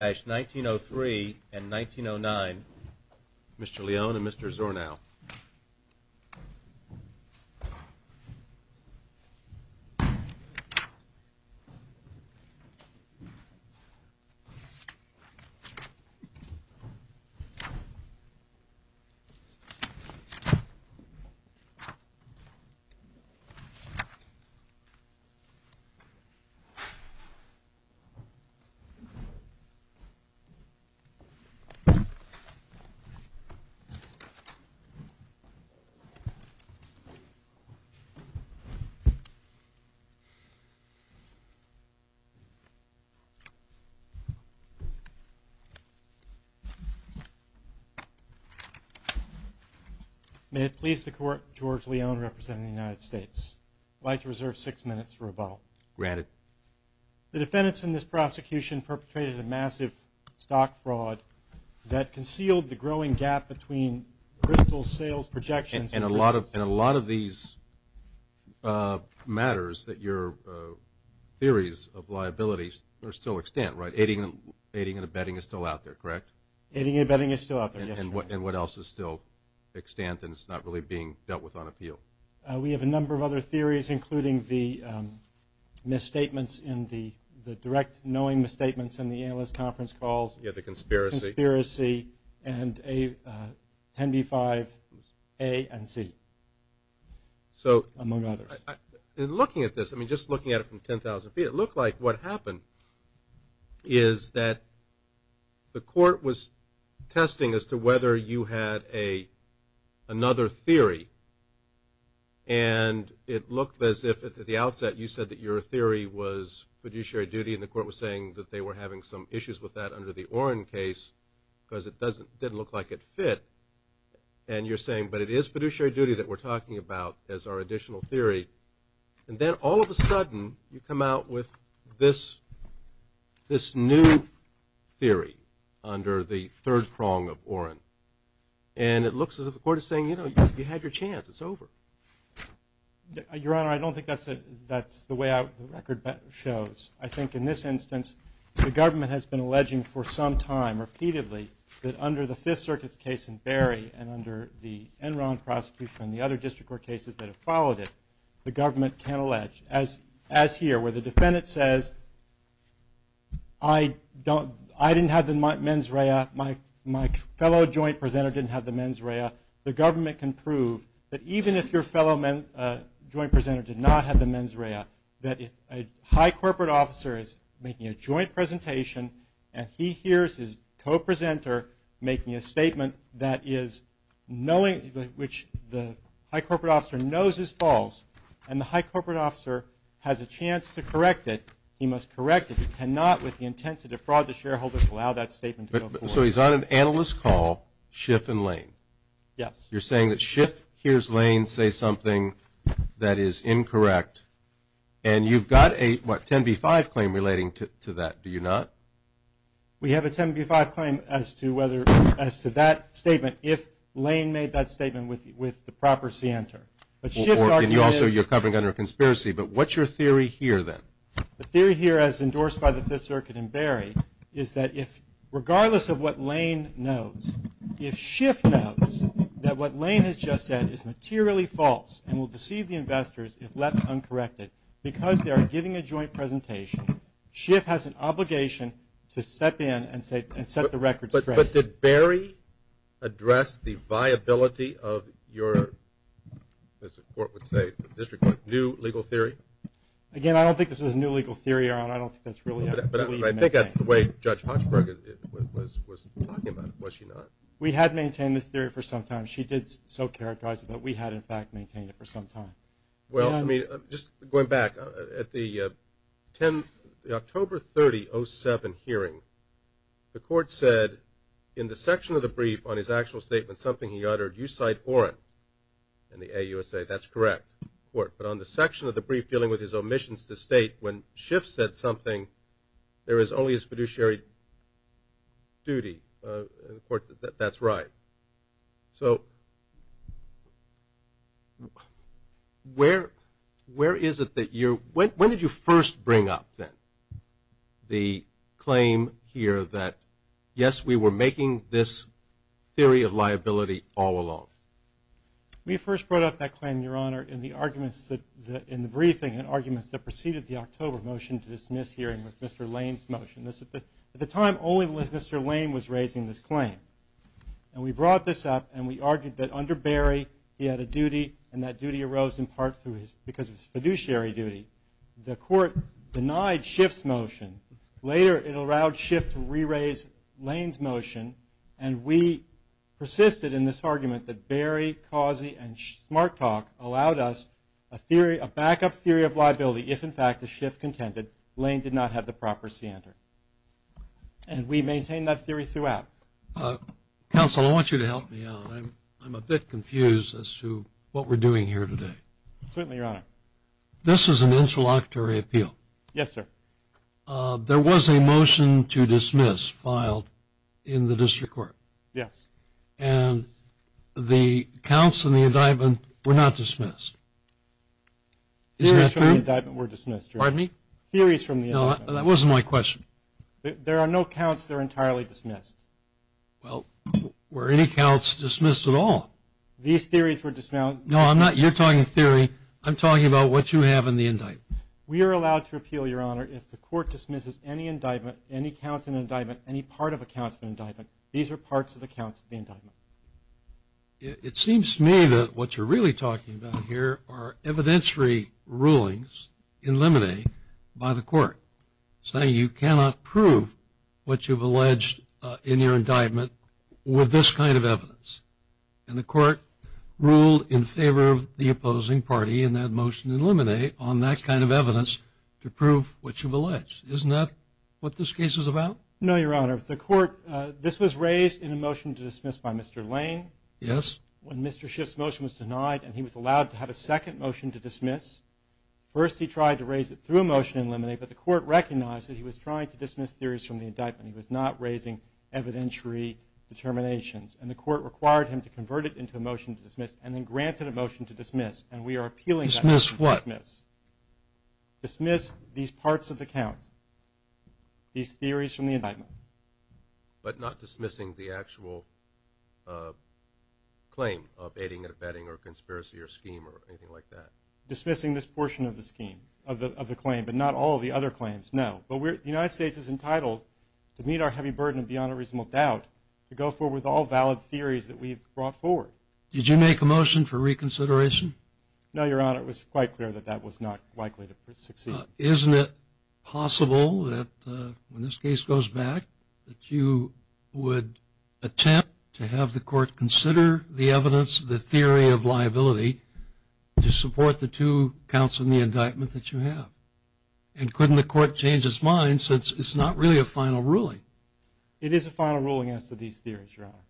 1903 and 1909, Mr. Leone and Mr. Zornow. May it please the court, George Leone representing the United States. I'd like to reserve six minutes for rebuttal. Granted. The defendants in this prosecution perpetrated a massive stock fraud that concealed the growing gap between Bristol's sales projections and And a lot of these uh... matters that your theories of liabilities are still extant, right? Aiding and abetting is still out there, correct? Aiding and abetting is still out there, yes. And what else is still extant and is not really being dealt with on appeal? We have a number of other theories including the misstatements in the the direct knowing misstatements in the analyst conference calls. Yeah, the conspiracy. And a 10b-5 A and C. So... Among others. In looking at this, I mean just looking at it from 10,000 feet, it looked like what happened is that the court was another theory and it looked as if at the outset you said that your theory was fiduciary duty and the court was saying that they were having some issues with that under the Oren case because it doesn't, didn't look like it fit and you're saying but it is fiduciary duty that we're talking about as our additional theory and then all of a sudden you come out with this new theory under the third prong of Oren and it looks as if the court is saying, you know, you had your chance, it's over. Your Honor, I don't think that's the way the record shows. I think in this instance the government has been alleging for some time repeatedly that under the Fifth Circuit's case in Berry and under the Enron prosecution and the other district court cases that have followed it, the government can't allege. As as here where the defendant says, I don't, I didn't have the mens rea, my fellow joint presenter didn't have the mens rea, the government can prove that even if your fellow joint presenter did not have the mens rea, that if a high corporate officer is making a joint presentation and he hears his co-presenter making a statement that is knowing, which the high corporate officer knows is false and the high corporate officer has a chance to correct it, he must correct it. He cannot, with the intent to defraud the shareholders, allow that statement to go forward. So he's on an analyst call, Schiff and Lane. Yes. You're saying that Schiff hears Lane say something that is incorrect and you've got a, what, 10b-5 claim relating to that, do you not? We have a 10b-5 claim as to whether, as to that statement, if Lane made that statement with the proper c-enter. And you also, you're covering under conspiracy, but what's your theory here then? The theory here, as endorsed by the Fifth Circuit and Berry, is that if, regardless of what Lane knows, if Schiff knows that what Lane has just said is materially false and will deceive the investors if left uncorrected, because they are giving a joint presentation, Schiff has an obligation to step in and say, and set the record straight. But did Berry address the viability of your, as the court would say, district court, new legal theory? Again, I don't think this is a new legal theory, Aaron. I don't think that's really how we maintain it. But I think that's the way Judge Hochberg was talking about it, was she not? We had maintained this theory for some time. She did so characterize it, but we had, in fact, maintained it for some time. Well, I mean, just going back, at the October 30, 07 hearing, the court said, in the section of the brief on his actual statement, something he uttered, you cite Orrin in the AUSA. That's correct, the court. But on the section of the brief dealing with his omissions to state, when Schiff said something, there is only his fiduciary duty, the court, that that's right. Where is it that you're, when did you first bring up, then, the claim here that, yes, we were making this theory of liability all along? We first brought up that claim, Your Honor, in the arguments that, in the briefing, in the arguments that preceded the October motion to dismiss hearing with Mr. Lane's motion. At the time, only Mr. Lane was raising this claim. And we brought this up, and we argued that under Barry, he had a duty, and that duty arose in part through his, because of his fiduciary duty. The court denied Schiff's motion. Later, it allowed Schiff to re-raise Lane's motion, and we persisted in this argument that Barry, Causey, and Smarttalk allowed us a theory, a backup theory of liability, if, in fact, that Schiff contended Lane did not have the proper scienter. And we maintain that theory throughout. Counsel, I want you to help me out. I'm a bit confused as to what we're doing here today. Certainly, Your Honor. This is an interlocutory appeal. Yes, sir. There was a motion to dismiss filed in the district court. Yes. And the counts in the indictment were not dismissed. Theories from the indictment were dismissed, Your Honor. Theories from the indictment. There are no counts that are entirely dismissed. Well, were any counts dismissed at all? These theories were dismissed. No, I'm not, you're talking theory. I'm talking about what you have in the indictment. We are allowed to appeal, Your Honor, if the court dismisses any indictment, any counts in the indictment, any part of a counts in the indictment. These are parts of the counts in the indictment. It seems to me that what you're really talking about here are evidentiary rulings in limine by the court saying you cannot prove in your indictment with this kind of evidence. And the court ruled in favor of the opposing party in that motion in limine on that kind of evidence to prove what you've alleged. Isn't that what this case is about? No, Your Honor. The court, this was raised in a motion to dismiss by Mr. Lane. Yes. When Mr. Schiff's motion was denied and he was allowed to have a second motion to dismiss, first he tried to raise it through a motion in limine, but the court recognized that he was trying to dismiss theories from the indictment. He was not raising evidentiary determinations. And the court required him to convert it into a motion to dismiss and then granted a motion to dismiss. And we are appealing that motion to dismiss. Dismiss what? Dismiss these parts of the counts, these theories from the indictment. But not dismissing the actual claim of aiding and abetting or conspiracy or scheme or anything like that? Dismissing this portion of the scheme, of the claim, but not all of the other claims, no. But the United States is entitled to meet our heavy burden beyond a reasonable doubt to go forward with all valid theories that we've brought forward. Did you make a motion for reconsideration? No, Your Honor. It was quite clear that that was not likely to succeed. Isn't it possible that when this case goes back, that you would attempt to have the court consider the evidence, the theory of liability, to support the two counts in the indictment that you have? And couldn't the court change its mind since it's not really a final ruling? It is a final ruling as to these theories, Your Honor.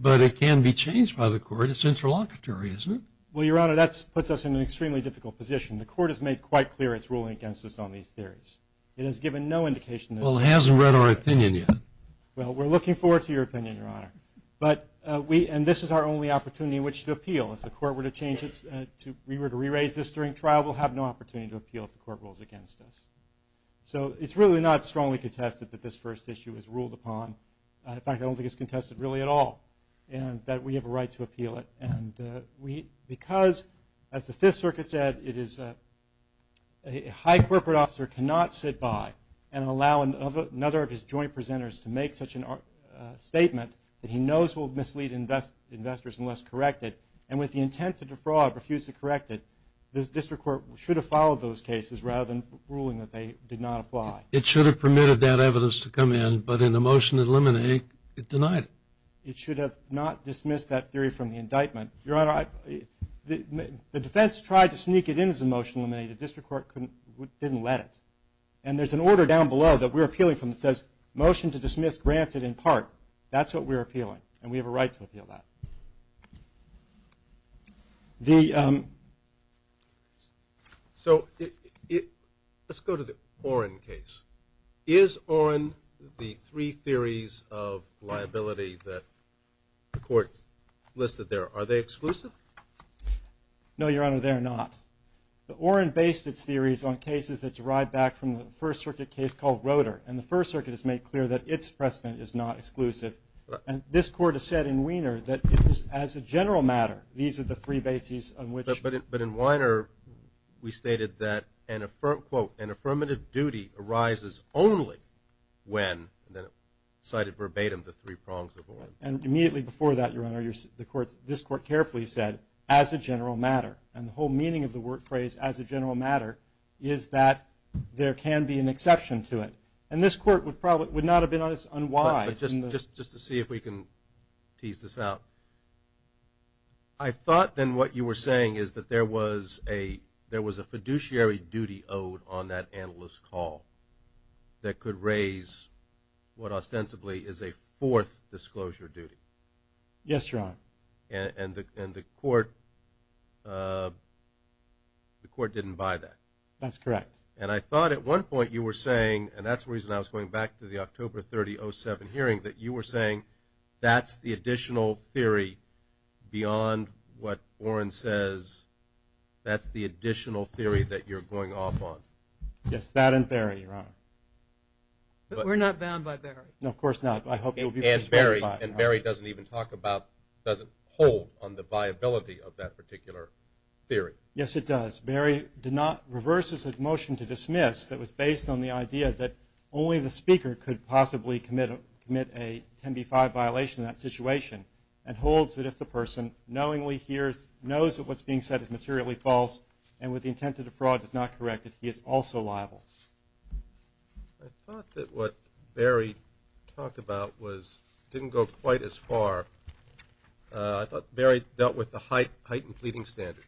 But it can be changed by the court. It's interlocutory, isn't it? Well, Your Honor, that puts us in an extremely difficult position. The court has made quite clear its ruling against us on these theories. It has given no indication that it is. Well, it hasn't read our opinion yet. Well, we're looking forward to your opinion, Your Honor. And this is our only opportunity in which to appeal. If the court were to re-raise this during trial, we'll have no opportunity to appeal if the court rules against us. So it's really not strongly contested that this first issue is ruled upon. In fact, I don't think it's contested really at all. And that we have a right to appeal it. And because, as the Fifth Circuit said, a high corporate officer cannot sit by and allow another of his joint presenters to make such a statement that he knows will mislead investors unless corrected. And with the intent to defraud, refuse to correct it, the district court should have followed those cases rather than ruling that they did not apply. It should have permitted that evidence to come in, but in the motion to eliminate, it denied it. It should have not dismissed that theory from the indictment. Your Honor, the defense tried to sneak it in as a motion to eliminate it. The district court didn't let it. And there's an order down below that we're appealing from that says, motion to dismiss granted in part. That's what we're appealing. And we have a right to appeal that. The, um... So, let's go to the Oren case. Is Oren the three theories of liability that the court's listed there, are they exclusive? No, Your Honor, they're not. The Oren based its theories on cases that derived back from the First Circuit case called Roeder. And the First Circuit has made clear that its precedent is not exclusive. And this court has said in Wiener that this is as a general matter. These are the three bases on which... But in Wiener, we stated that, quote, an affirmative duty arises only when, cited verbatim, the three prongs of Oren. And immediately before that, Your Honor, this court carefully said, as a general matter. And the whole meaning of the word phrase, as a general matter, is that there can be an exception to it. And this court would not have been as unwise... Just to see if we can tease this out. I thought then what you were saying is that there was a fiduciary duty owed on that analyst's call that could raise what ostensibly is a fourth disclosure duty. Yes, Your Honor. And the court didn't buy that. That's correct. And I thought at one point you were saying, and that's the reason I was going back to the October 30, 07 hearing, that you were saying that's the additional theory beyond what Oren says, that's the additional theory that you're going off on. Yes, that and Barry, Your Honor. But we're not bound by Barry. No, of course not. And Barry doesn't even talk about, doesn't hold on the viability of that particular theory. Yes, it does. Barry did not reverse his motion to dismiss that was based on the idea that only the speaker could possibly commit a 10b-5 violation in that situation and holds that if the person knowingly knows that what's being said is materially false and with the intent to defraud is not corrected, he is also liable. I thought that what Barry talked about didn't go quite as far. I thought Barry dealt with the heightened pleading standard.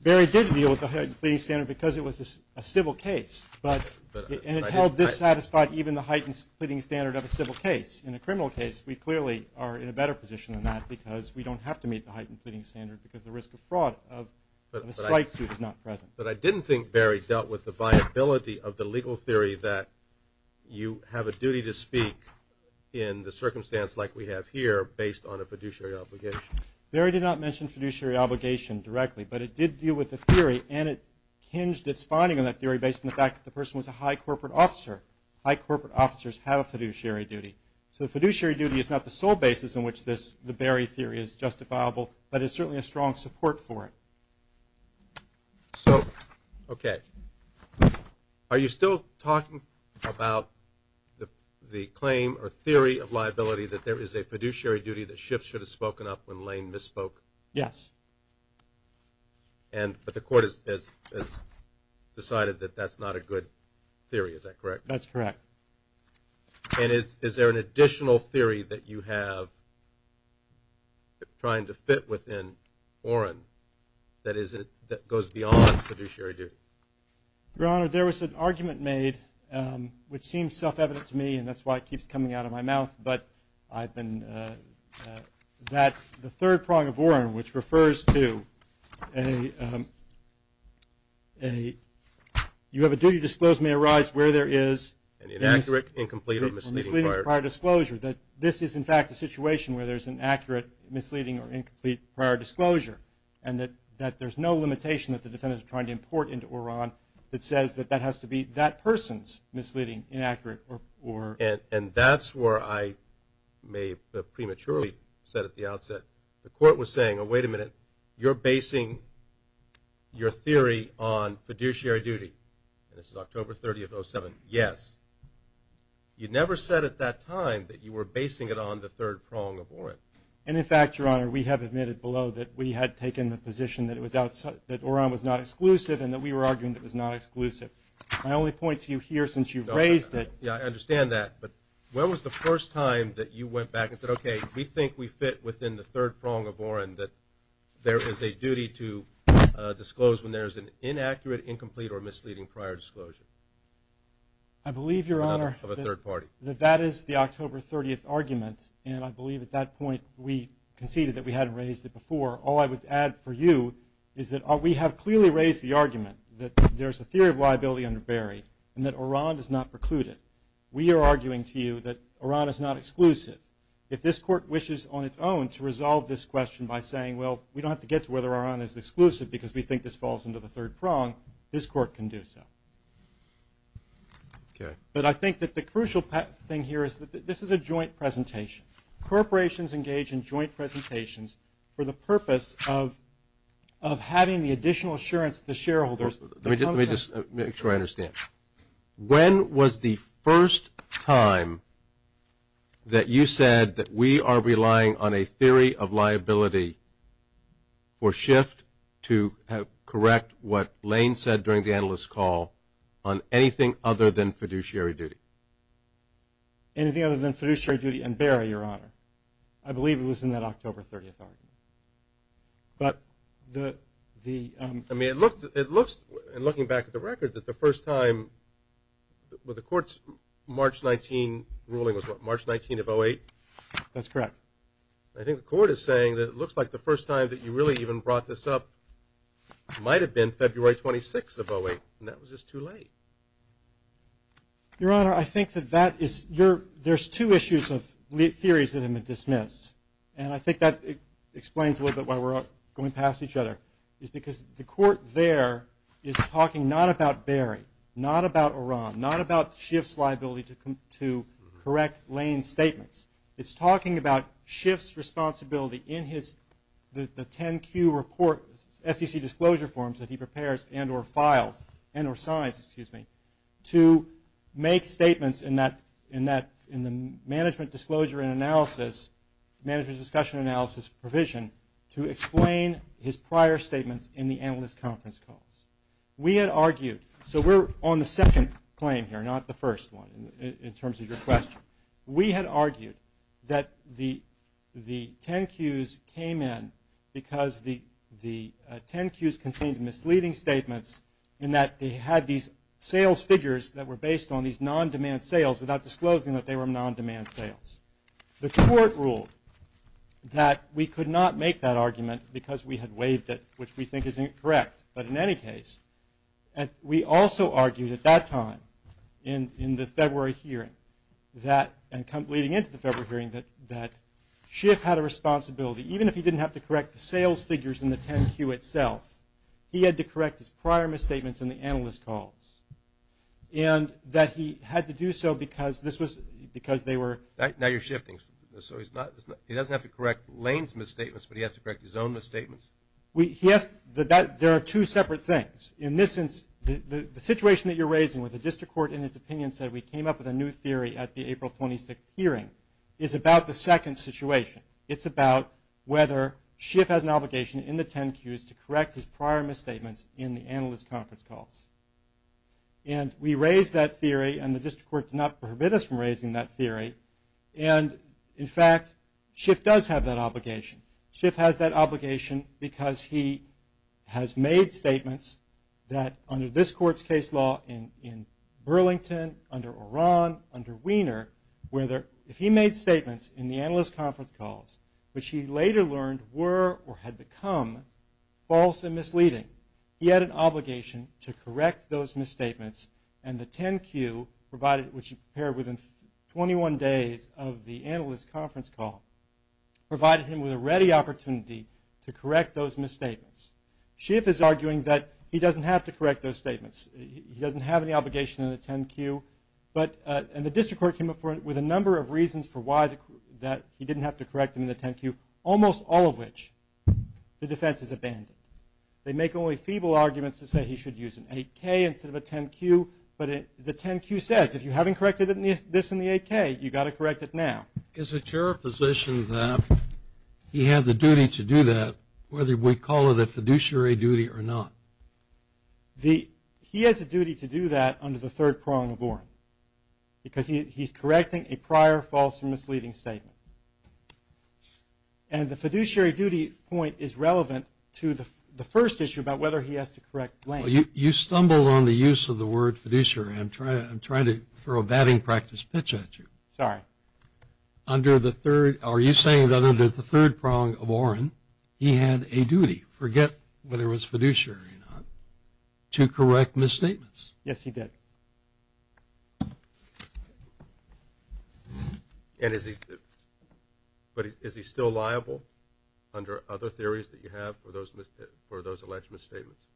Barry did deal with the heightened pleading standard because it was a civil case and it held dissatisfied even the heightened pleading standard of a civil case. In a criminal case, we clearly are in a better position than that because we don't have to meet the heightened pleading standard because the risk of fraud of a strike suit is not present. But I didn't think Barry dealt with the viability of the legal theory that you have a duty to speak in the circumstance like we have here based on a fiduciary obligation. Barry did not mention fiduciary obligation directly, but it did deal with the theory and it hinged its finding on that theory based on the fact that the person was a high corporate officer. High corporate officers have a fiduciary duty. So the fiduciary duty is not the sole basis on which this theory is justifiable, but it's certainly a strong support for it. So, okay. Are you still talking about the claim or theory of liability that there is a fiduciary duty that Schiff should have spoken up when Lane misspoke? Yes. And, but the court has decided that that's not a good theory. Is that correct? That's correct. And is there an additional theory that you have trying to fit within Oren that goes beyond fiduciary duty? Your Honor, there was an argument made, which seems self-evident to me and that's why it keeps coming out of my mouth, but I've been that the third prong of Oren, which refers to a a you have a duty to disclose may arise where there is an inaccurate, incomplete, or misleading prior disclosure. That this is in fact a situation where there's an accurate, misleading, or incomplete prior disclosure. And that there's no limitation that the defendant is trying to import into Oren that says that that has to be that person's misleading, inaccurate, or And that's where I may have prematurely said at the outset, the court was saying, wait a minute, you're basing your theory on fiduciary duty. And this is October 30th, 2007. Yes. You never said at that time that you were basing it on the third prong of Oren. And in fact, Your Honor, we have admitted below that we had taken the position that it was, that Oren was not exclusive and that we were arguing that it was not exclusive. My only point to you here since you've raised it. Yeah, I understand that. But when was the first time that you went back and said, okay, we think we fit within the third prong of Oren that there is a duty to disclose when there's an inaccurate, incomplete, or misleading prior disclosure? I believe, Your Honor, of a third party. That that is the October 30th argument. And I believe at that point we conceded that we hadn't raised it before. All I would add for you is that we have clearly raised the argument that there's a theory of liability under Barry and that Oren is not precluded. We are arguing to you that Oren is not exclusive. If this Court wishes on its own to resolve this question by saying, well, we don't have to get to whether Oren is exclusive because we think this falls into the third prong, this Court can do so. Okay. But I think that the crucial thing here is that this is a joint presentation. Corporations engage in joint presentations for the purpose of having the additional assurance that the shareholders... Let me just make sure I understand. When was the first time that you said that we are relying on a theory of liability for shift to correct what Lane said during the analyst's call on anything other than fiduciary duty? Anything other than fiduciary duty and Barry, Your Honor. I believe it was in that October 30th argument. But the... I mean, it looks, in looking back at the record, that the first time with the Court's March 19 ruling was what, March 19 of 08? That's correct. I think the Court is saying that it looks like the first time that you really even brought this up might have been February 26 of 08, and that was just too late. Your Honor, I think that that is... There's two issues of theories that have been dismissed, and I think that explains a little bit why we're going past each other. It's because the Court there is talking not about Barry, not about Oran, not about shift's liability to correct Lane's statements. It's talking about shift's responsibility in his... the 10-Q report, SEC disclosure forms that he prepares, and or files, and or signs, excuse me, to make statements in that management disclosure and analysis, management disclosure and analysis provision to explain his prior statements in the analyst conference calls. We had argued, so we're on the second claim here, not the first one, in terms of your question. We had argued that the 10-Qs came in because the 10-Qs contained misleading statements sales figures that were based on these non-demand sales without disclosing that they were controlled. That we could not make that argument because we had waived it, which we think is incorrect. But in any case, we also argued at that time in the February hearing that, and leading into the February hearing, that shift had a responsibility, even if he didn't have to correct the sales figures in the 10-Q itself, he had to correct his prior misstatements in the analyst calls. And that he had to do so because this was... Now you're shifting. So he's not... He doesn't have to correct Lane's misstatements, but he has to correct his own misstatements? There are two separate things. In this sense, the situation that you're raising with the district court in its opinion said we came up with a new theory at the April 26th hearing is about the second situation. It's about whether Schiff has an obligation in the 10-Qs to correct his prior misstatements in the analyst conference calls. And we raised that theory, and the district court did not forbid us from raising that theory. And, in fact, Schiff does have that obligation. Schiff has that obligation because he has made statements that, under this court's case law, in Burlington, under Oran, under Wiener, where if he made statements in the analyst conference calls, which he later learned were or had become false and misleading, he had an obligation to correct those misstatements and the 10-Q, which he prepared within 21 days of the analyst conference call, provided him with a ready opportunity to correct those misstatements. Schiff is arguing that he doesn't have to correct those statements. He doesn't have any obligation in the 10-Q, and the district court came up with a number of reasons for why that he didn't have to correct them in the 10-Q, almost all of which the defense has abandoned. They make only feeble arguments to say he should use an 8-K instead of a 10-Q, but the 10-Q says, if you haven't corrected this in the 8-K, you've got to correct it now. Is it your position that he had the duty to do that, whether we call it a fiduciary duty or not? He has a duty to do that under the third prong of Oran, because he's correcting a prior false or misleading statement. And the fiduciary duty point is relevant to the You stumbled on the use of the word fiduciary. I'm trying to throw a batting practice pitch at you. Sorry. Are you saying that under the third prong of Oran, he had a duty forget whether it was fiduciary or not, to correct misstatements? Yes, he did. But is he still liable under other theories that you have for those alleged misstatements?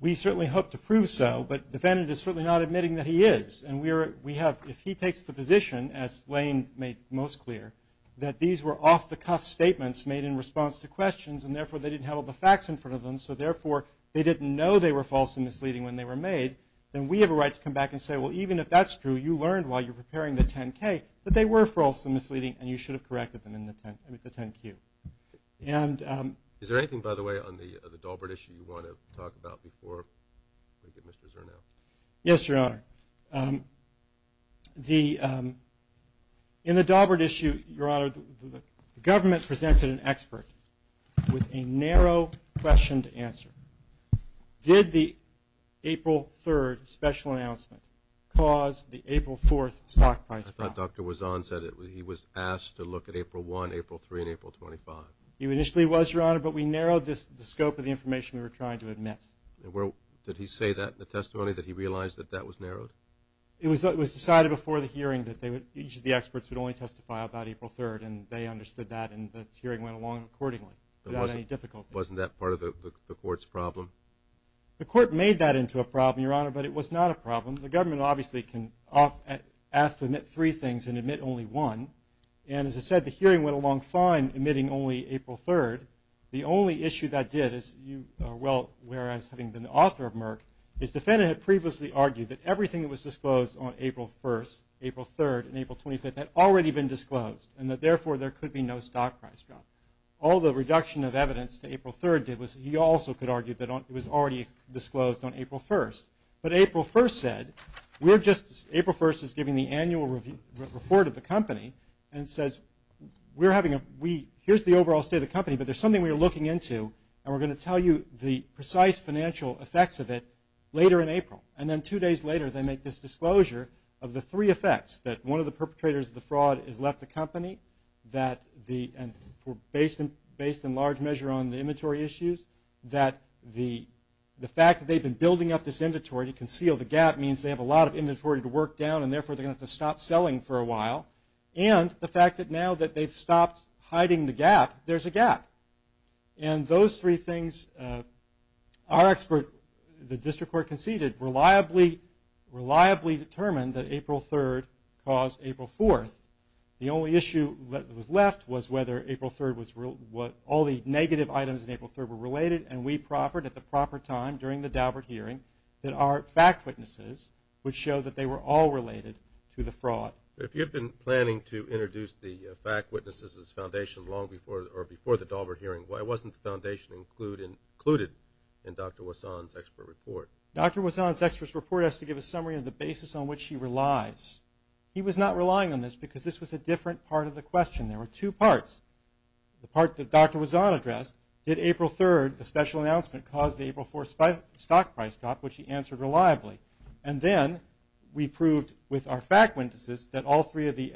We certainly hope to prove so, but the defendant is certainly not admitting that he is. If he takes the position, as Lane made most clear, that these were off-the-cuff statements made in response to questions, and therefore they didn't have all the facts in front of them, so therefore they didn't know they were false and misleading when they were made, then we have a right to come back and say, well, even if that's true, you learned while you were preparing the 10-K that they were false and misleading, and you should have corrected them in the 10-Q. Is there anything, by the way, on the Daubert issue you want to talk about before we get Mr. Zernow? Yes, Your Honor. In the Daubert issue, Your Honor, the government presented an expert with a narrow question to answer. Did the April 3rd special announcement cause the April 4th stock price drop? I thought Dr. Wazon said he was asked to look at April 1, April 3, and April 25. He initially was, Your Honor, but we narrowed the scope of the information we were trying to admit. Did he say that in the testimony, that he realized that that was narrowed? It was decided before the hearing that each of the experts would only testify about April 3rd, and they understood that, and the hearing went along accordingly without any difficulty. Wasn't that part of the Court's problem? The Court made that into a problem, Your Honor, but it was not a problem. The government obviously can ask to admit three things and admit only one, and as I said, the hearing went along fine, admitting only April 3rd. The only issue that did is, well, whereas having been the author of Merck, his defendant had previously argued that everything that was disclosed on April 1st, April 3rd, and April 25th had already been disclosed, and that therefore there could be no stock price drop. All the reduction of evidence to April 3rd did was, he also could argue that it was already disclosed on April 1st. But April 1st said, we're just, April 1st is giving the annual report of the company and says, we're having a, we, here's the overall state of the company, but there's something we're looking into, and we're going to tell you the precise financial effects of it later in April. And then two days later, they make this disclosure of the three effects, that one of the perpetrators of the fraud has left the company, that the, and based in large measure on the inventory issues, that the fact that they've been building up this inventory to work down, and therefore they're going to have to stop selling for a while, and the fact that now that they've stopped hiding the gap, there's a gap. And those three things, our expert, the District Court conceded, reliably, reliably determined that April 3rd caused April 4th. The only issue that was left was whether April 3rd was, what all the negative items in April 3rd were related, and we proffered at the proper time, during the Daubert hearing, that our fact witnesses would show that they were all related to the fraud. If you've been planning to introduce the fact witnesses as foundation long before, or before the Daubert hearing, why wasn't the foundation included in Dr. Wasson's expert report? Dr. Wasson's expert report has to give a summary of the basis on which he relies. He was not relying on this because this was a different part of the question. There were two parts. The part that Dr. Wasson addressed, did April 3rd, the special announcement, cause the April 4th stock price drop, which he answered reliably. And then, we proved with our fact witnesses that all three of the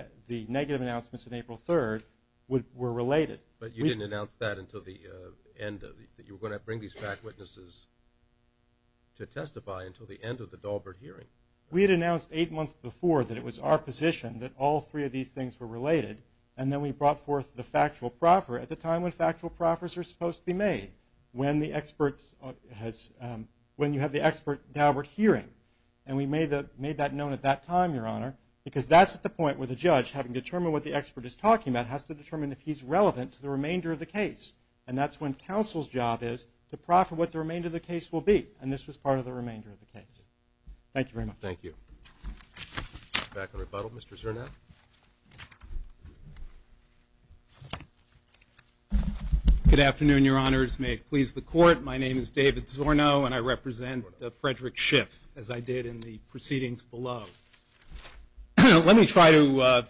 negative announcements in April 3rd were related. But you didn't announce that until the end of, that you were going to bring these fact witnesses to testify until the end of the Daubert hearing. We had announced eight months before that it was our position that all three of these things were related, and then we brought forth the factual proffer at the time when factual proffers are supposed to be made. When the experts, when you have the expert Daubert hearing. And we made that known at that time, Your Honor, because that's the point where the judge, having determined what the expert is talking about, has to determine if he's relevant to the remainder of the case. And that's when counsel's job is to proffer what the remainder of the case will be. And this was part of the remainder of the case. Thank you very much. Thank you. Back in rebuttal, Mr. Zernath. Good afternoon, Your Honors. May it please the court. My name is David Zornow, and I represent Frederick Schiff, as I did in the proceedings below. Let me try to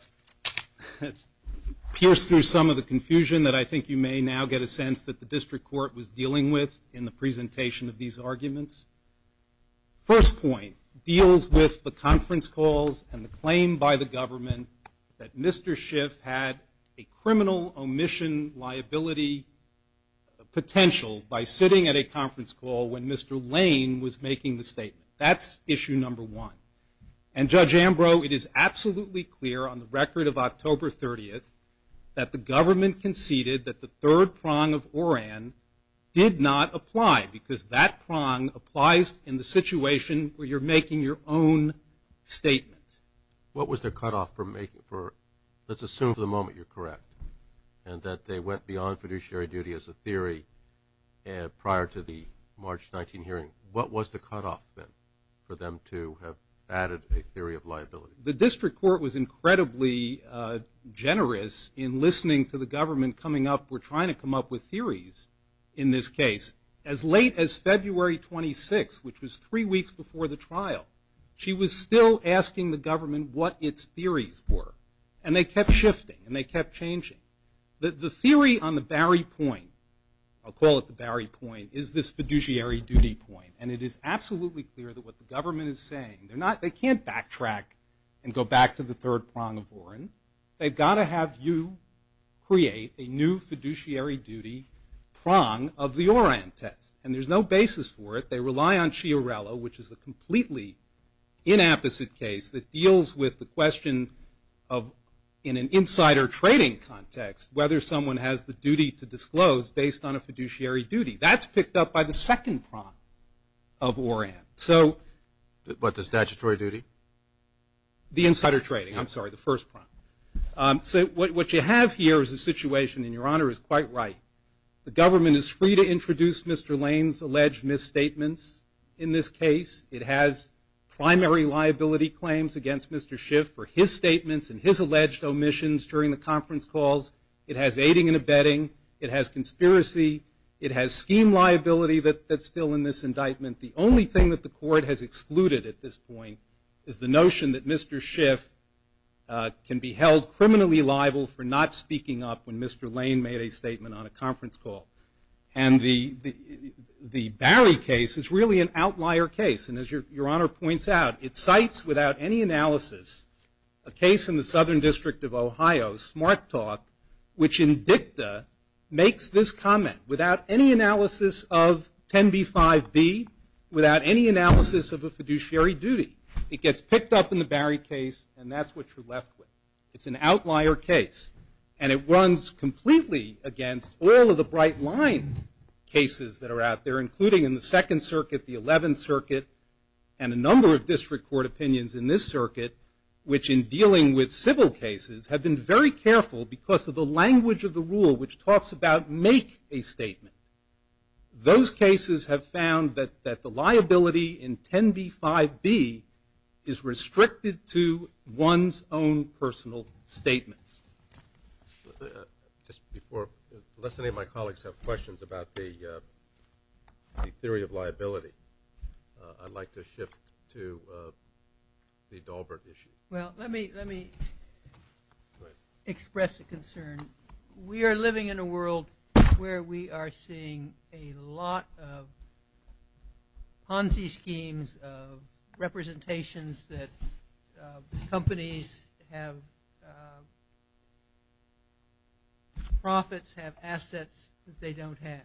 pierce through some of the confusion that I think you may now get a sense that the district court was dealing with in the presentation of these arguments. First point deals with the conference calls and the claim by the government that Mr. Schiff had a criminal omission liability potential by sitting at a conference call when Mr. Lane was making the statement. That's issue number one. And Judge Ambrose, it is absolutely clear on the record of October 30th that the government conceded that the third prong of Oran did not apply because that prong applies in the situation where you're making your own statement. What was the cutoff for let's assume for the moment you're correct and that they went beyond fiduciary duty as a theory prior to the March 19 hearing. What was the cutoff then for them to have added a theory of liability? The district court was incredibly generous in listening to the government coming up. We're trying to come up with theories in this case. As late as February 26th, which was three weeks before the trial, she was still asking the government what its theories were. And they kept shifting and they kept changing. The theory on the Barry point, I'll call it the Barry point, is this fiduciary duty point. And it is absolutely clear that what the government is saying, they're not, they can't backtrack and go back to the third prong of Oran. They've got to have you create a new fiduciary duty prong of the Oran test. And there's no basis for it. They rely on Chiarella, which is a completely inapposite case that deals with the question of in an insider trading context, whether someone has the duty to disclose based on a fiduciary duty. That's picked up by the second prong of Oran. So What, the statutory duty? The insider trading. I'm sorry, the first prong. What you have here is a situation and your honor is quite right. The government is free to introduce Mr. Lane's alleged misstatements in this case. It has primary liability claims against Mr. Schiff for his statements and his alleged omissions during the conference calls. It has aiding and abetting. It has conspiracy. It has scheme liability that's still in this indictment. The only thing that the court has excluded at this point is the notion that Mr. Schiff can be held criminally liable for not speaking up when Mr. Lane made a statement on a conference call. And the Barry case is really an outlier case. And as your honor points out, it cites without any analysis. A case in the Southern District of Ohio, Smart Talk, which in dicta makes this comment. Without any analysis of 10b-5b, without any analysis of a fiduciary duty. It gets picked up in the Barry case and that's what you're left with. It's an argument that runs completely against all of the bright line cases that are out there, including in the Second Circuit, the Eleventh Circuit, and a number of district court opinions in this circuit, which in dealing with civil cases have been very careful because of the language of the rule which talks about make a statement. Those cases have found that the liability in 10b-5b is restricted to one's own personal statements. Unless any of my colleagues have questions about the theory of liability, I'd like to shift to the Dahlberg issue. Let me express a concern. We are living in a world where we are seeing a lot of Ponzi schemes, representations that companies have profits, have assets that they don't have.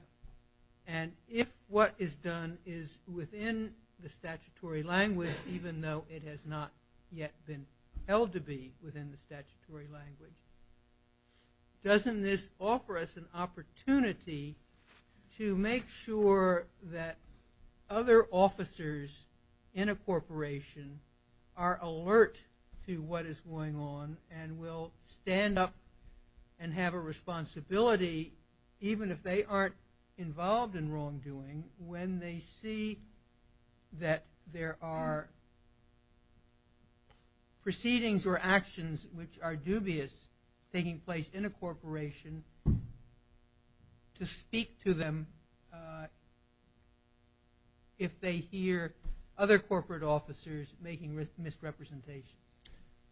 And if what is done is within the statutory language, even though it has not yet been held to be within the statutory language, doesn't this offer us an opportunity to make sure that other officers in a corporation are alert to what is going on, and will stand up and have a responsibility even if they aren't involved in wrongdoing, when they see that there are proceedings or actions which are dubious taking place in a corporation to speak to them if they hear other corporate officers making misrepresentations?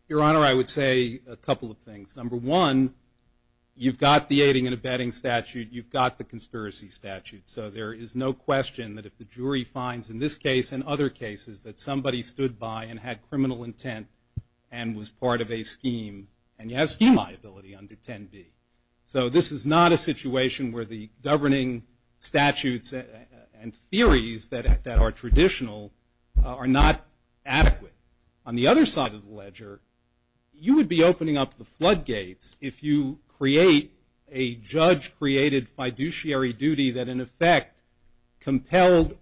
Your Honor, I would say a couple of things. Number one, you've got the aiding and abetting statute, you've got the conspiracy statute, so there is no question that if the jury finds in this case and other cases that somebody stood by and had criminal intent and was part of a scheme, and you have scheme liability under 10B. So this is not a situation where the governing statutes and our traditional are not adequate. On the other side of the ledger, you would be opening up the floodgates if you create a judge created fiduciary duty that in effect compelled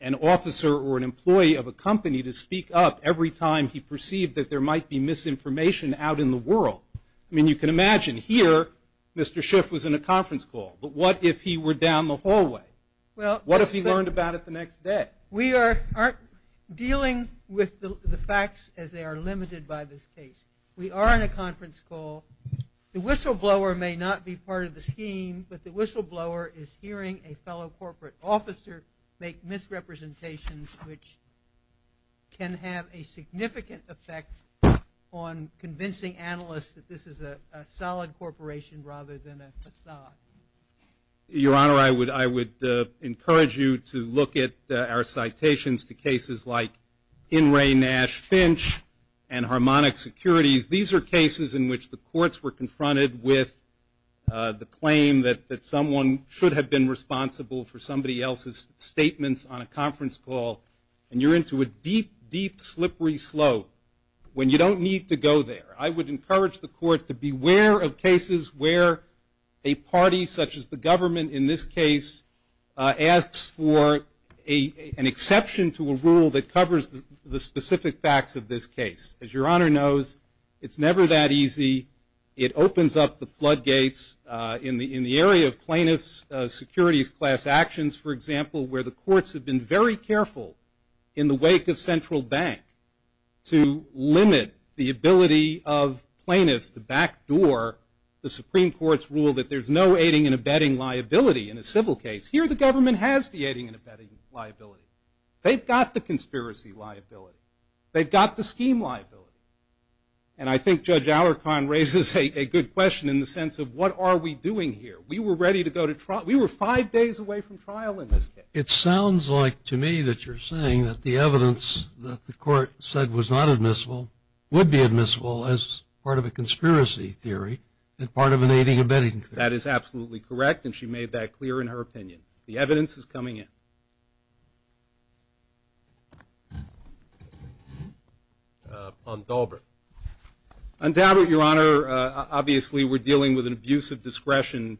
an officer or an employee of a company to speak up every time he perceived that there might be misinformation out in the world. I mean, you can imagine here, Mr. Schiff was in a conference call, but what if he were down the hallway? What if he learned about it the next day? We aren't dealing with the facts as they are limited by this case. We are in a conference call. The whistleblower may not be part of the scheme, but the whistleblower is hearing a fellow corporate officer make misrepresentations a significant effect on convincing analysts that this is a solid corporation rather than a facade. Your Honor, I would encourage you to look at our citations to cases like In re Nash Finch and Harmonic Securities. These are cases in which the courts were confronted with the claim that someone should have been responsible for somebody else's statements on a conference call, and you're into a deep, deep, slippery slope when you don't need to go there. I would encourage the court to beware of such as the government in this case asks for an exception to a rule that covers the specific facts of this case. As your Honor knows, it's never that easy. It opens up the floodgates in the area of plaintiffs securities class actions, for example, where the courts have been very careful in the wake of Central Bank to limit the ability of plaintiffs to backdoor the Supreme Court's rule that there's no aiding and abetting liability in a civil case. Here the government has the aiding and abetting liability. They've got the conspiracy liability. They've got the scheme liability. And I think Judge Alarcon raises a good question in the sense of what are we doing here? We were ready to go to trial. We were five days away from trial in this case. It sounds like to me that you're saying that the evidence that the court said was not admissible would be admissible as part of a conspiracy theory and part of an aiding and abetting theory. That is absolutely correct, and she made that clear in her opinion. The evidence is coming in. On Dalbert. On Dalbert, Your Honor, obviously we're dealing with an abusive discretion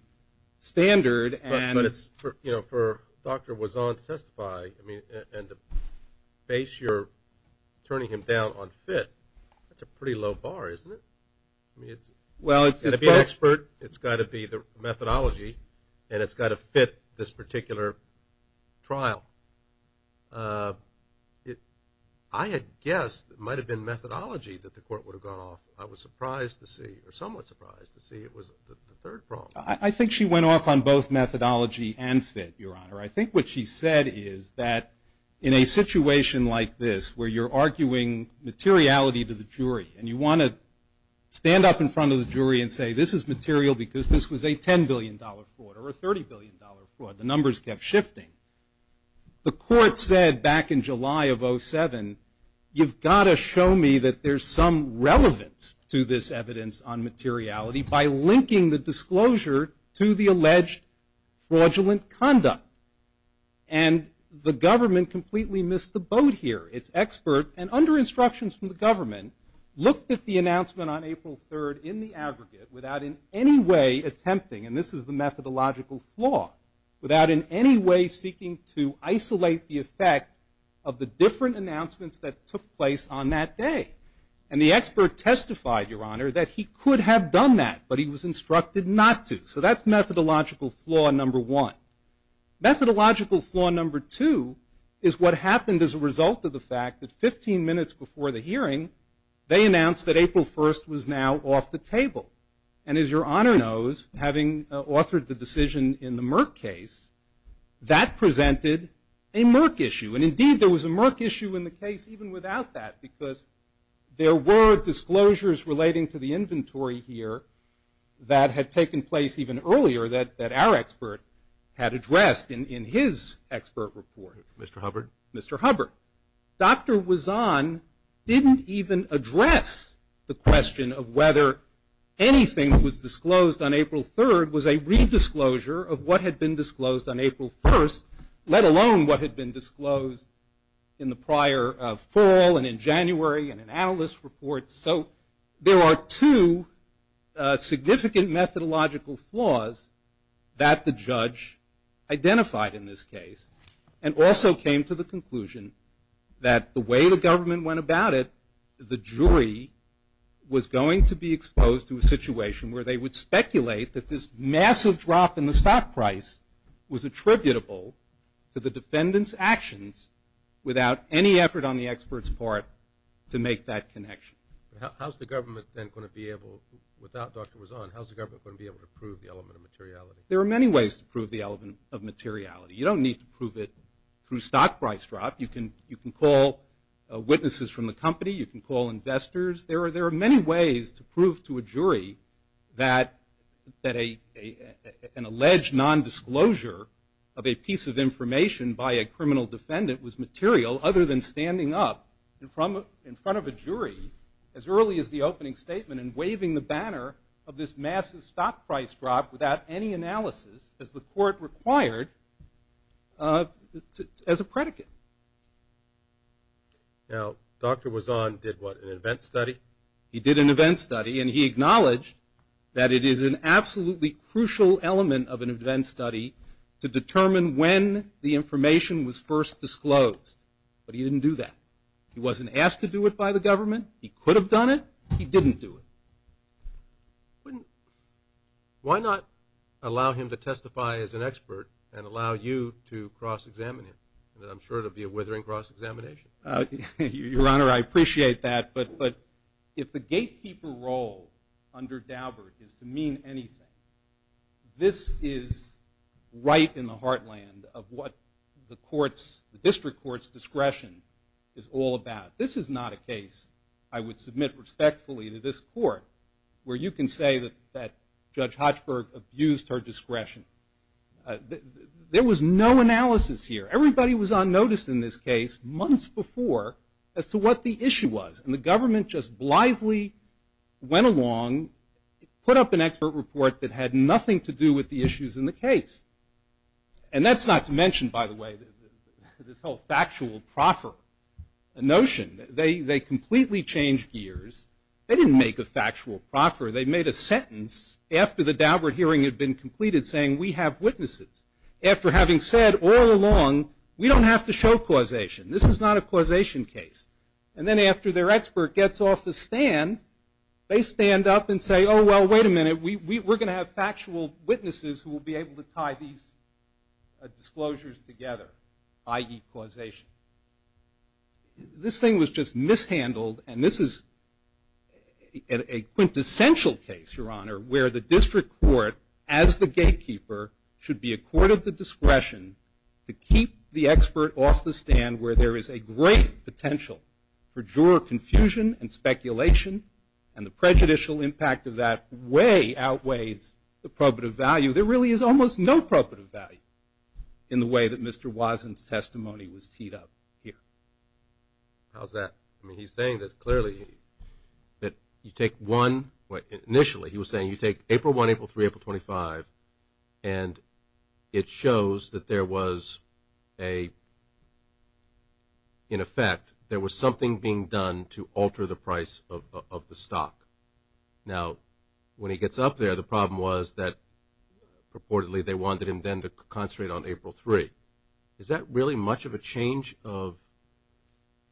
standard and... But it's, you know, for Dr. Wazon to testify, I mean, and to base your turning him down on fit, that's a pretty low bar, isn't it? I mean, it's got to be an expert, it's got to be the methodology, and it's got to fit this particular trial. I had guessed it might have been methodology that the court would have gone off. I was surprised to see, or somewhat surprised to see it was the third problem. I think she went off on both methodology and fit, Your Honor. I think what she said is that in a situation like this where you're arguing materiality to the jury, and you want to stand up in front of the jury and say, this is material because this was a $10 billion fraud, or a $30 billion fraud, the numbers kept shifting. The court said back in July of 07, you've got to show me that there's some relevance to this evidence on materiality by linking the disclosure to the alleged fraudulent conduct. And the government completely missed the boat here. It's expert, and under instructions from the government, looked at the announcement on April 3rd in the aggregate without in any way attempting, and this is the methodological flaw, without in any way seeking to isolate the effect of the different announcements that took place on that day. And the expert testified, Your Honor, that he could have done that, but he was instructed not to. So that's methodological flaw number one. Methodological flaw number two is what happened as a result of the fact that 15 minutes before the hearing, they announced that April 1st was now off the table. And as Your Honor knows, having authored the decision in the Merck case, that presented a Merck issue. And indeed, there was a Merck issue in the case even without that, because there were disclosures relating to the inventory here that had taken place even earlier that our expert had addressed in his expert report. Mr. Hubbard? Mr. Hubbard. Dr. Wazzan didn't even address the question of whether anything that was disclosed on April 3rd was a redisclosure of what had been disclosed on April 1st, let alone what had been disclosed in the prior fall and in January in an analyst report. So there are two significant methodological flaws that the judge identified in this case, and also came to the conclusion that the way the government went about it, the jury was going to be exposed to a situation where they would speculate that this massive drop in the stock price was attributable to the defendant's actions without any effort on the expert's part to make that connection. How's the government then going to be able without Dr. Wazzan, how's the government going to be able to prove the element of materiality? There are many ways to prove the element of materiality. You don't need to prove it through stock price drop. You can call witnesses from the company. You can call investors. There are many ways to prove to a jury that an alleged non-disclosure of a piece of information by a criminal defendant was material other than standing up in front of a jury as early as the opening statement and waving the banner of this massive stock price drop without any analysis as the court required as a predicate. Now, Dr. Wazzan did what, an event study? He did an event study, and he acknowledged that it is an absolutely crucial element of an event study to determine when the information was first disclosed. But he didn't do that. He wasn't asked to do it by the government. He could have done it. He didn't do it. Why not allow him to testify as an expert and allow you to cross-examine him? I'm sure it'll be a withering cross-examination. Your Honor, I appreciate that, but if the gatekeeper role under Daubert is to mean anything, this is right in the heartland of what the court's, the district court's, discretion is all about. This is not a case I would submit respectfully to this court where you can say that Judge Hochberg abused her discretion. There was no analysis here. Everybody was on notice in this case months before as to what the issue was, and the government just blithely went along, put up an expert report that had nothing to do with the issues in the case. And that's not to mention, by the way, this whole factual proffer notion. They completely changed gears. They didn't make a factual proffer. They made a sentence after the Daubert hearing had been completed saying, we have witnesses. After having said all along, we don't have to show causation. This is not a causation case. And then after their expert gets off the stand, they stand up and say, oh, well, wait a minute. We're going to have factual witnesses who will be able to tie these disclosures together, i.e. causation. This thing was just mishandled, and this is a quintessential case, Your Honor, where the district court, as the gatekeeper, should be a court of the discretion to keep the expert off the stand where there is a great potential for juror confusion and speculation, and the prejudicial impact of that way outweighs the probative value. There really is almost no probative value in the way that Mr. Wesson's testimony was teed up here. How's that? I mean, he's saying that clearly that you take one, well, initially he was saying you take April 1, April 3, April 25, and it shows that there was a, in effect, there was something being done to alter the price of the stock. Now, when he gets up there, the problem was that purportedly they wanted him then to concentrate on April 3. Is that really much of a change of...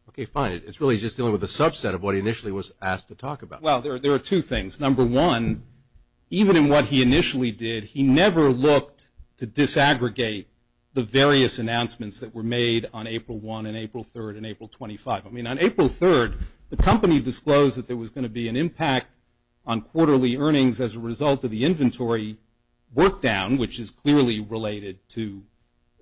Okay, fine. It's really just dealing with a subset of what he initially was asked to talk about. Well, there are two things. Number one, even in what he initially did, he never looked to disaggregate the various announcements that were made on April 1 and April 3 and April 25. I mean, on April 3, the impact on quarterly earnings as a result of the inventory work down, which is clearly related to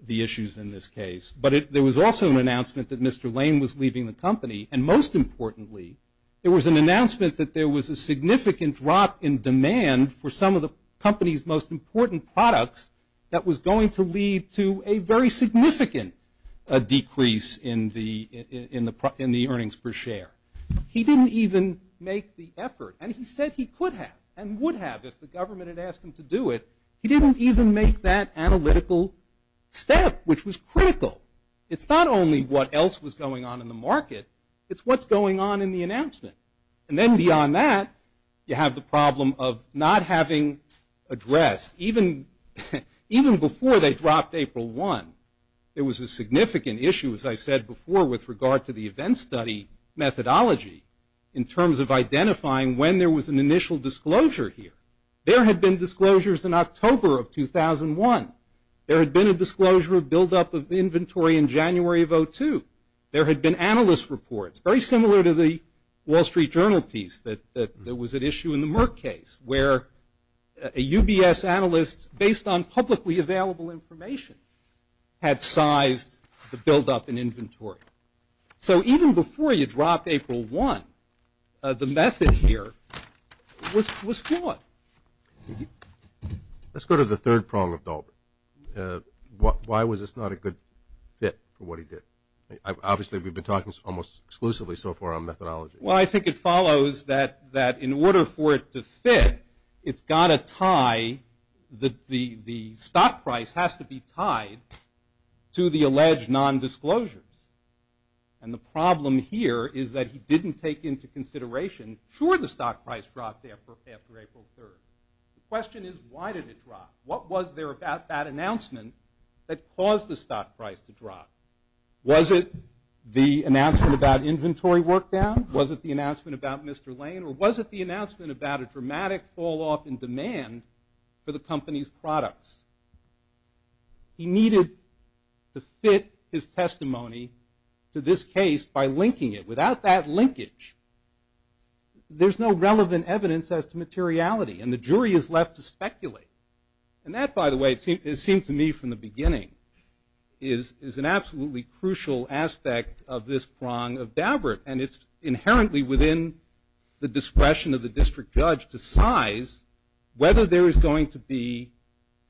the issues in this case, but there was also an announcement that Mr. Lane was leaving the company, and most importantly, there was an announcement that there was a significant drop in demand for some of the company's most important products that was going to lead to a very significant decrease in the earnings per share. He didn't even make the effort, and he said he could have and would have if the government had asked him to do it. He didn't even make that analytical step, which was critical. It's not only what else was going on in the market, it's what's going on in the announcement. And then beyond that, you have the problem of not having addressed, even before they dropped April 1, there was a significant issue, as I said before, with regard to the event study methodology in terms of identifying when there was an initial disclosure here. There had been disclosures in October of 2001. There had been a disclosure of buildup of inventory in January of 2002. There had been analyst reports, very similar to the Wall Street Journal piece that was at issue in the Merck case, where a UBS analyst, based on publicly available information, had sized the buildup in inventory. So even before you dropped April 1, the method here was flawed. Let's go to the third prong of Dalton. Why was this not a good fit for what he did? Obviously, we've been talking almost exclusively so far on methodology. Well, I think it follows that in order for it to fit, it's got to tie the stock price has to be hedged non-disclosures. And the problem here is that he didn't take into consideration sure the stock price dropped after April 3rd. The question is why did it drop? What was there about that announcement that caused the stock price to drop? Was it the announcement about inventory workdown? Was it the announcement about Mr. Lane? Or was it the announcement about a dramatic fall-off in demand for the company's products? He needed to fit his testimony to this case by linking it. Without that linkage, there's no relevant evidence as to materiality. And the jury is left to speculate. And that, by the way, it seems to me from the beginning, is an absolutely crucial aspect of this prong of Dabbert. And it's inherently within the discretion of the district judge to size whether there is going to be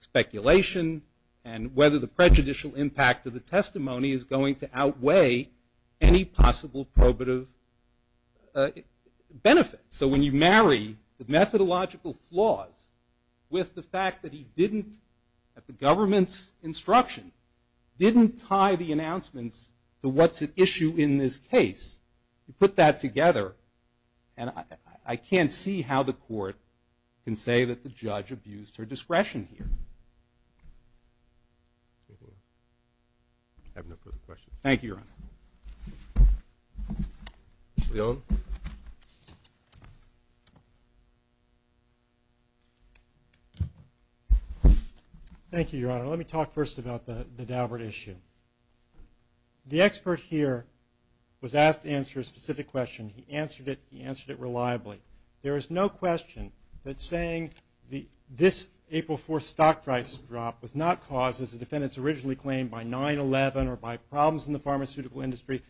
speculation and whether the prejudicial impact of the testimony is going to outweigh any possible probative benefit. So when you marry the methodological flaws with the fact that he didn't, at the government's instruction, didn't tie the announcements to what's at issue in this case, you put that together and I can't see how the court can say that the I have no further questions. Thank you, Your Honor. Mr. Leone? Thank you, Your Honor. Let me talk first about the Dabbert issue. The expert here was asked to answer a specific question. He answered it reliably. There is no question that saying this April 4th stock price drop was not caused, as the defendants originally claimed, by 9-11 or by problems in the pharmaceutical industry,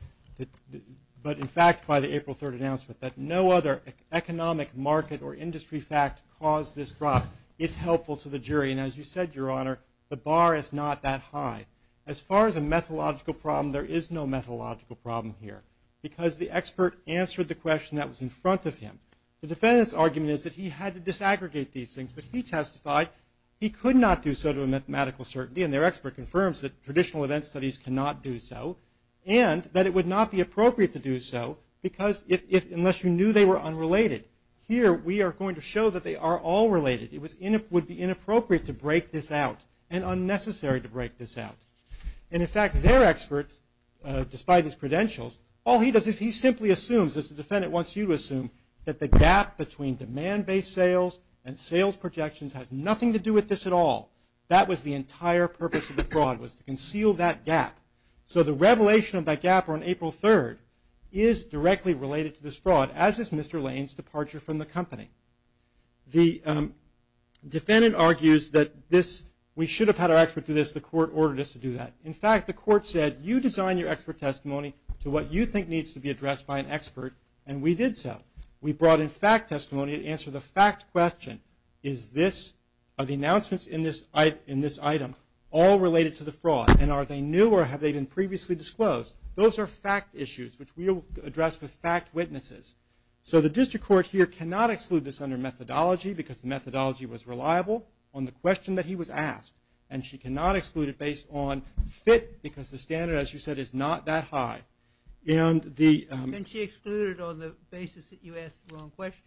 but in fact by the April 3rd announcement that no other economic, market, or industry fact caused this drop. It's helpful to the jury. And as you said, Your Honor, the bar is not that high. As far as a methodological problem, there is no methodological problem here because the expert answered the question that was in front of him. The defendant's argument is that he had to disaggregate these things, but he testified he could not do so to a mathematical certainty, and their expert confirms that traditional event studies cannot do so, and that it would not be appropriate to do so because if, unless you knew they were unrelated. Here, we are going to show that they are all related. It would be inappropriate to break this out and unnecessary to break this out. And in fact, their experts, despite his credentials, all he does is he simply assumes, as the defendant wants you to assume, that the gap between demand-based sales and sales projections has nothing to do with this at all. That was the entire purpose of the fraud, was to conceal that gap. So the revelation of that gap on April 3rd is directly related to this fraud, as is Mr. Lane's departure from the company. The defendant argues that this, we should have had our expert do this, the court ordered us to do that. In fact, the court said you design your expert testimony to what you think needs to be addressed by an expert, and we did so. We brought in fact testimony to answer the fact question, is this, are the announcements in this item all related to the fraud, and are they new or have they been previously disclosed? Those are fact issues, which we will address with fact witnesses. So the district court here cannot exclude this under methodology because the methodology was reliable on the question that he was asked, and she cannot exclude it based on fit because the standard, as you said, is not that high. And she excluded it on the basis that you asked the wrong question?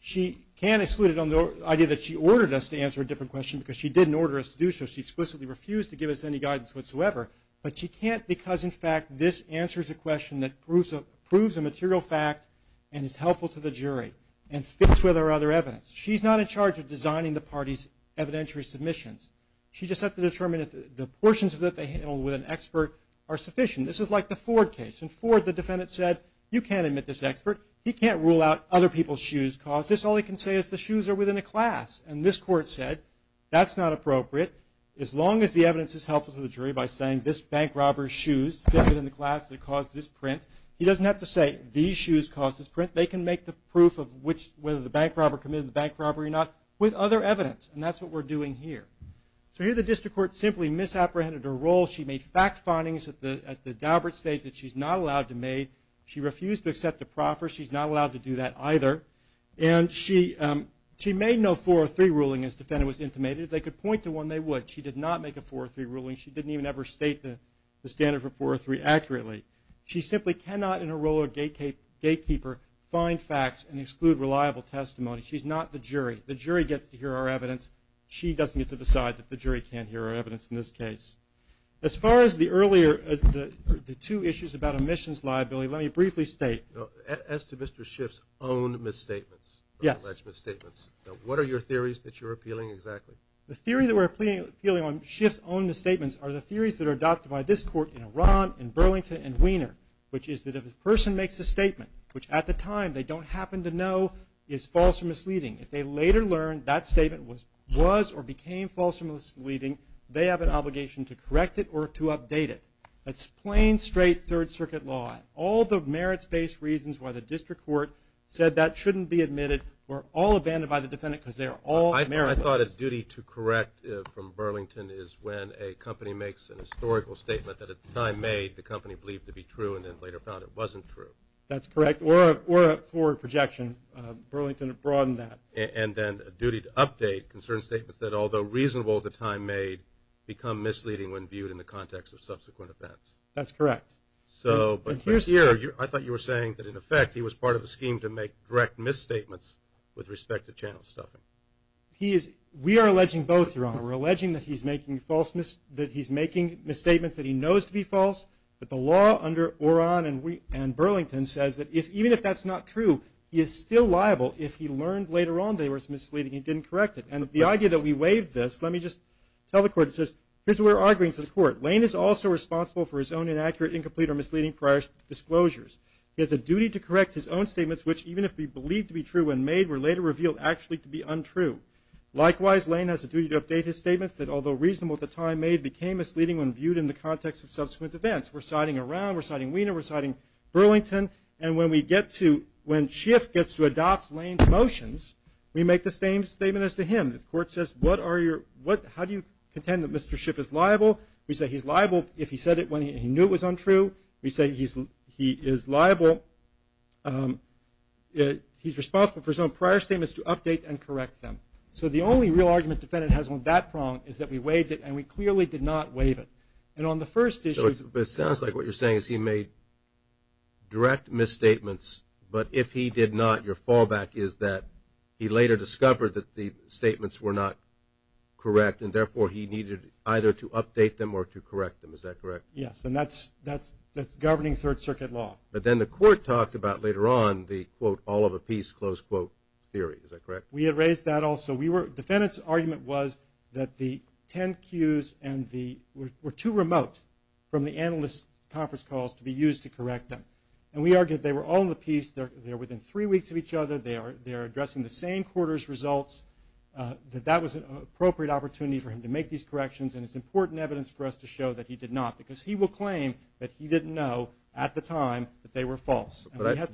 She can't exclude it on the idea that she ordered us to answer a different question because she didn't order us to do so. She explicitly refused to give us any guidance whatsoever, but she can't because in fact this answers a question that proves a material fact and is helpful to the jury and fits with our other evidence. She's not in charge of designing the party's evidentiary submissions. She just has to determine if the portions of that they handled with an expert are sufficient. This is like the Ford case. In Ford, the defendant said, you can't admit this expert. He can't rule out other people's shoes caused this. All he can say is the shoes are within a class. And this court said, that's not appropriate as long as the evidence is helpful to the jury by saying this bank robber's shoes fit within the class that caused this print. He doesn't have to say these shoes caused this print. They can make the proof of which whether the bank robber committed the bank robbery or not with other evidence, and that's what we're doing here. So here the district court simply misapprehended her role. She made fact findings at the Daubert stage that she's not allowed to make. She refused to accept the proffer. She's not allowed to do that either. And she made no 403 ruling as defendant was intimated. If they could point to one, they would. She did not make a 403 ruling. She didn't even ever state the standard for 403 accurately. She simply cannot in her role of gatekeeper find facts and exclude reliable testimony. She's not the jury. The jury gets to hear our evidence. She doesn't get to decide that the jury can't hear our evidence in this case. As far as the earlier two issues about omissions liability, let me briefly state As to Mr. Schiff's own misstatements, alleged misstatements, what are your theories that you're appealing exactly? The theory that we're appealing on Schiff's own misstatements are the theories that are adopted by this court in Iran and Burlington and Wiener, which is that if a person makes a statement, which at the time they don't happen to know is false or misleading, if they later learn that statement was or became false or misleading, they have an obligation to correct it or to update it. That's plain, straight Third Circuit law. All the merits based reasons why the district court said that shouldn't be admitted were all abandoned by the defendant because they're all merits. I thought a duty to correct from Burlington is when a company makes a historical statement that at the time made the company believed to be true and then later found it wasn't true. That's correct. Or a forward projection. Burlington broadened that. And then a duty to update concern statements that although reasonable at the time made become misleading when viewed in the context of subsequent events. That's correct. So, but here I thought you were saying that in effect he was part of a scheme to make direct misstatements with respect to channel stuffing. We are alleging both, Your Honor. We're alleging that he's making false, that he's making misstatements that he knows to be false but the law under Oran and Burlington says that even if that's not true, he is still liable if he learned later on they were misleading and he didn't correct it. And the idea that we waived this, let me just tell the court, it says here's what we're arguing to the court. Lane is also responsible for his own inaccurate, incomplete or misleading prior disclosures. He has a duty to correct his own statements which even if believed to be true when made were later revealed actually to be untrue. Likewise, Lane has a duty to update his statements that although reasonable at the time made became misleading when viewed in the context of subsequent events. We're siding around, we're siding Weiner, we're siding Burlington and when we get to, when Schiff gets to adopt Lane's motions, we make the same statement as to him. The court says, what are your, how do you contend that Mr. Schiff is liable? We say he's liable if he said it when he knew it was untrue. We say he is liable he's responsible for his own prior statements to update and correct them. So the only real argument defendant has on that prong is that we waived it and we clearly did not waive it. And on the first issue... It sounds like what you're saying is he made direct misstatements but if he did not, your fallback is that he later discovered that the statements were not correct and therefore he needed either to update them or to correct them. Is that correct? Yes, and that's governing third circuit law. But then the court talked about later on the quote all of a piece close quote theory. Is that correct? We had raised that also. We were defendant's argument was that the 10 cues were too remote from the analyst conference calls to be used to correct them. And we argued they were all in the piece they're within three weeks of each other they're addressing the same quarter's results that that was an appropriate opportunity for him to make these corrections and it's important evidence for us to show that he did not. Because he will claim that he didn't know at the time that they were false. But I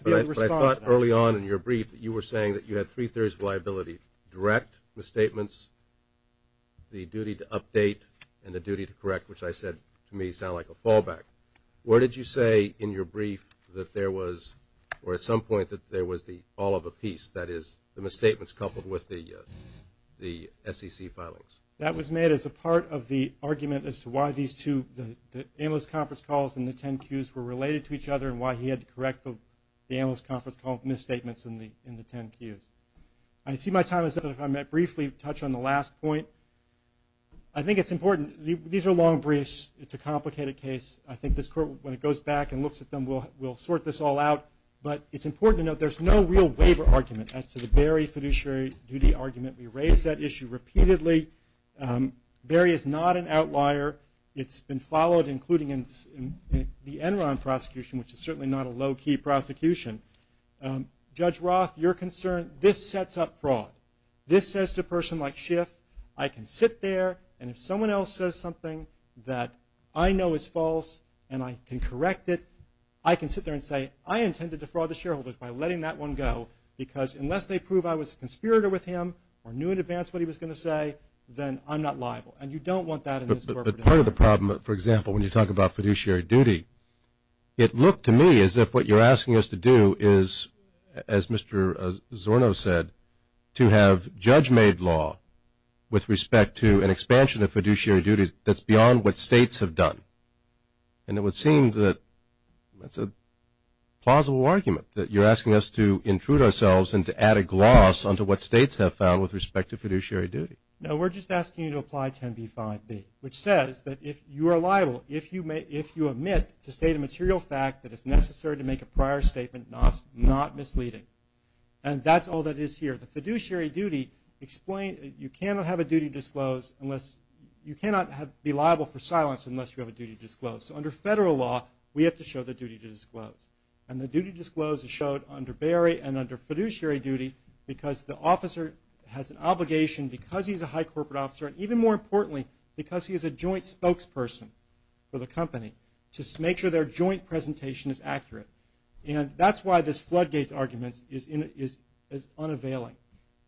thought early on in your brief that you were saying that you had three-thirds liability, direct misstatements the duty to update and the duty to correct, which I said to me sounded like a fallback. What did you say in your brief that there was, or at some point that there was the all of a piece, that is the misstatements coupled with the SEC filings? That was made as a part of the argument as to why these two, the analyst conference calls and the 10 cues were related to each other and why he had to correct the analyst conference call misstatements in the 10 cues. I see my time is up. If I may briefly touch on the last point. I think it's important. These are long briefs. It's a complicated case. I think this court, when it goes back and looks at them, will sort this all out. But it's important to note there's no real waiver argument as to the Barry fiduciary duty argument. We raise that issue repeatedly. Barry is not an outlier. It's been followed, including the Enron prosecution, which is certainly not a low-key prosecution. Judge Roth, your concern, this sets up fraud. This says to a person like Schiff, I can sit there and if someone else says something that I know is false and I can correct it, I can sit there and say I intended to fraud the shareholders by letting that one go because unless they prove I was a conspirator with him or knew in advance what he was going to say, then I'm not liable. And you don't want that in this corporate environment. But part of the problem, for example, when you talk about fiduciary duty, it looked to me as if what you're asking us to do is, as Mr. Zorno said, to have judge-made law with respect to an expansion of fiduciary duties that's beyond what states have done. And it would seem that that's a plausible argument, that you're asking us to intrude ourselves and to add a gloss onto what states have found with respect to fiduciary duty. No, we're just asking you to apply 10b-5b, which says that if you are liable, if you admit to state a material fact that is necessary to make a prior statement, not misleading. And that's all that is here. The fiduciary duty explains that you cannot have a duty disclosed unless, you cannot be liable for silence unless you have a duty disclosed. So under federal law, we have to show the duty disclosed. And the duty disclosed is shown under Berry and under fiduciary duty because the officer has an obligation because he's a high corporate officer, and even more importantly, because he is a joint spokesperson for the company, to make sure their joint presentation is accurate. And that's why this Floodgates argument is unavailing.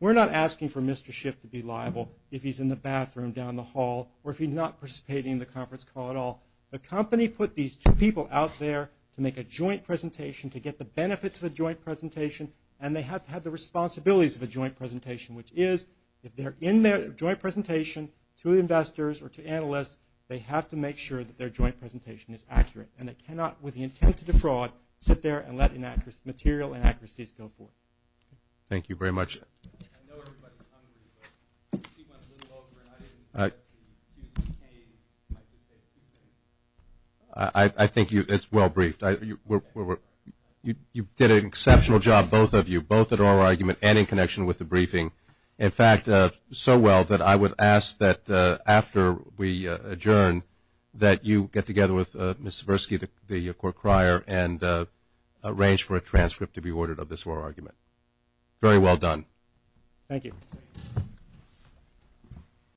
We're not asking for Mr. Schiff to be liable if he's in the bathroom down the hall, or if he's not participating in the conference call at all. The company put these two people out there to make a joint presentation, to get the benefits of a joint presentation, and they have to have the responsibilities of a joint presentation, which is, if they're in their joint presentation to investors or to analysts, they have to make sure that their joint presentation is accurate. And they cannot, with the intent to defraud, sit there and let material inaccuracies go forth. Thank you very much. I think it's well briefed. You did an exceptional job, both of you, both at oral argument and in connection with the briefing. In fact, so well that I would ask that after we adjourn, that you get together with Ms. Zversky, the court crier, and arrange for a transcript to be ordered of this oral argument. Very well done. Thank you.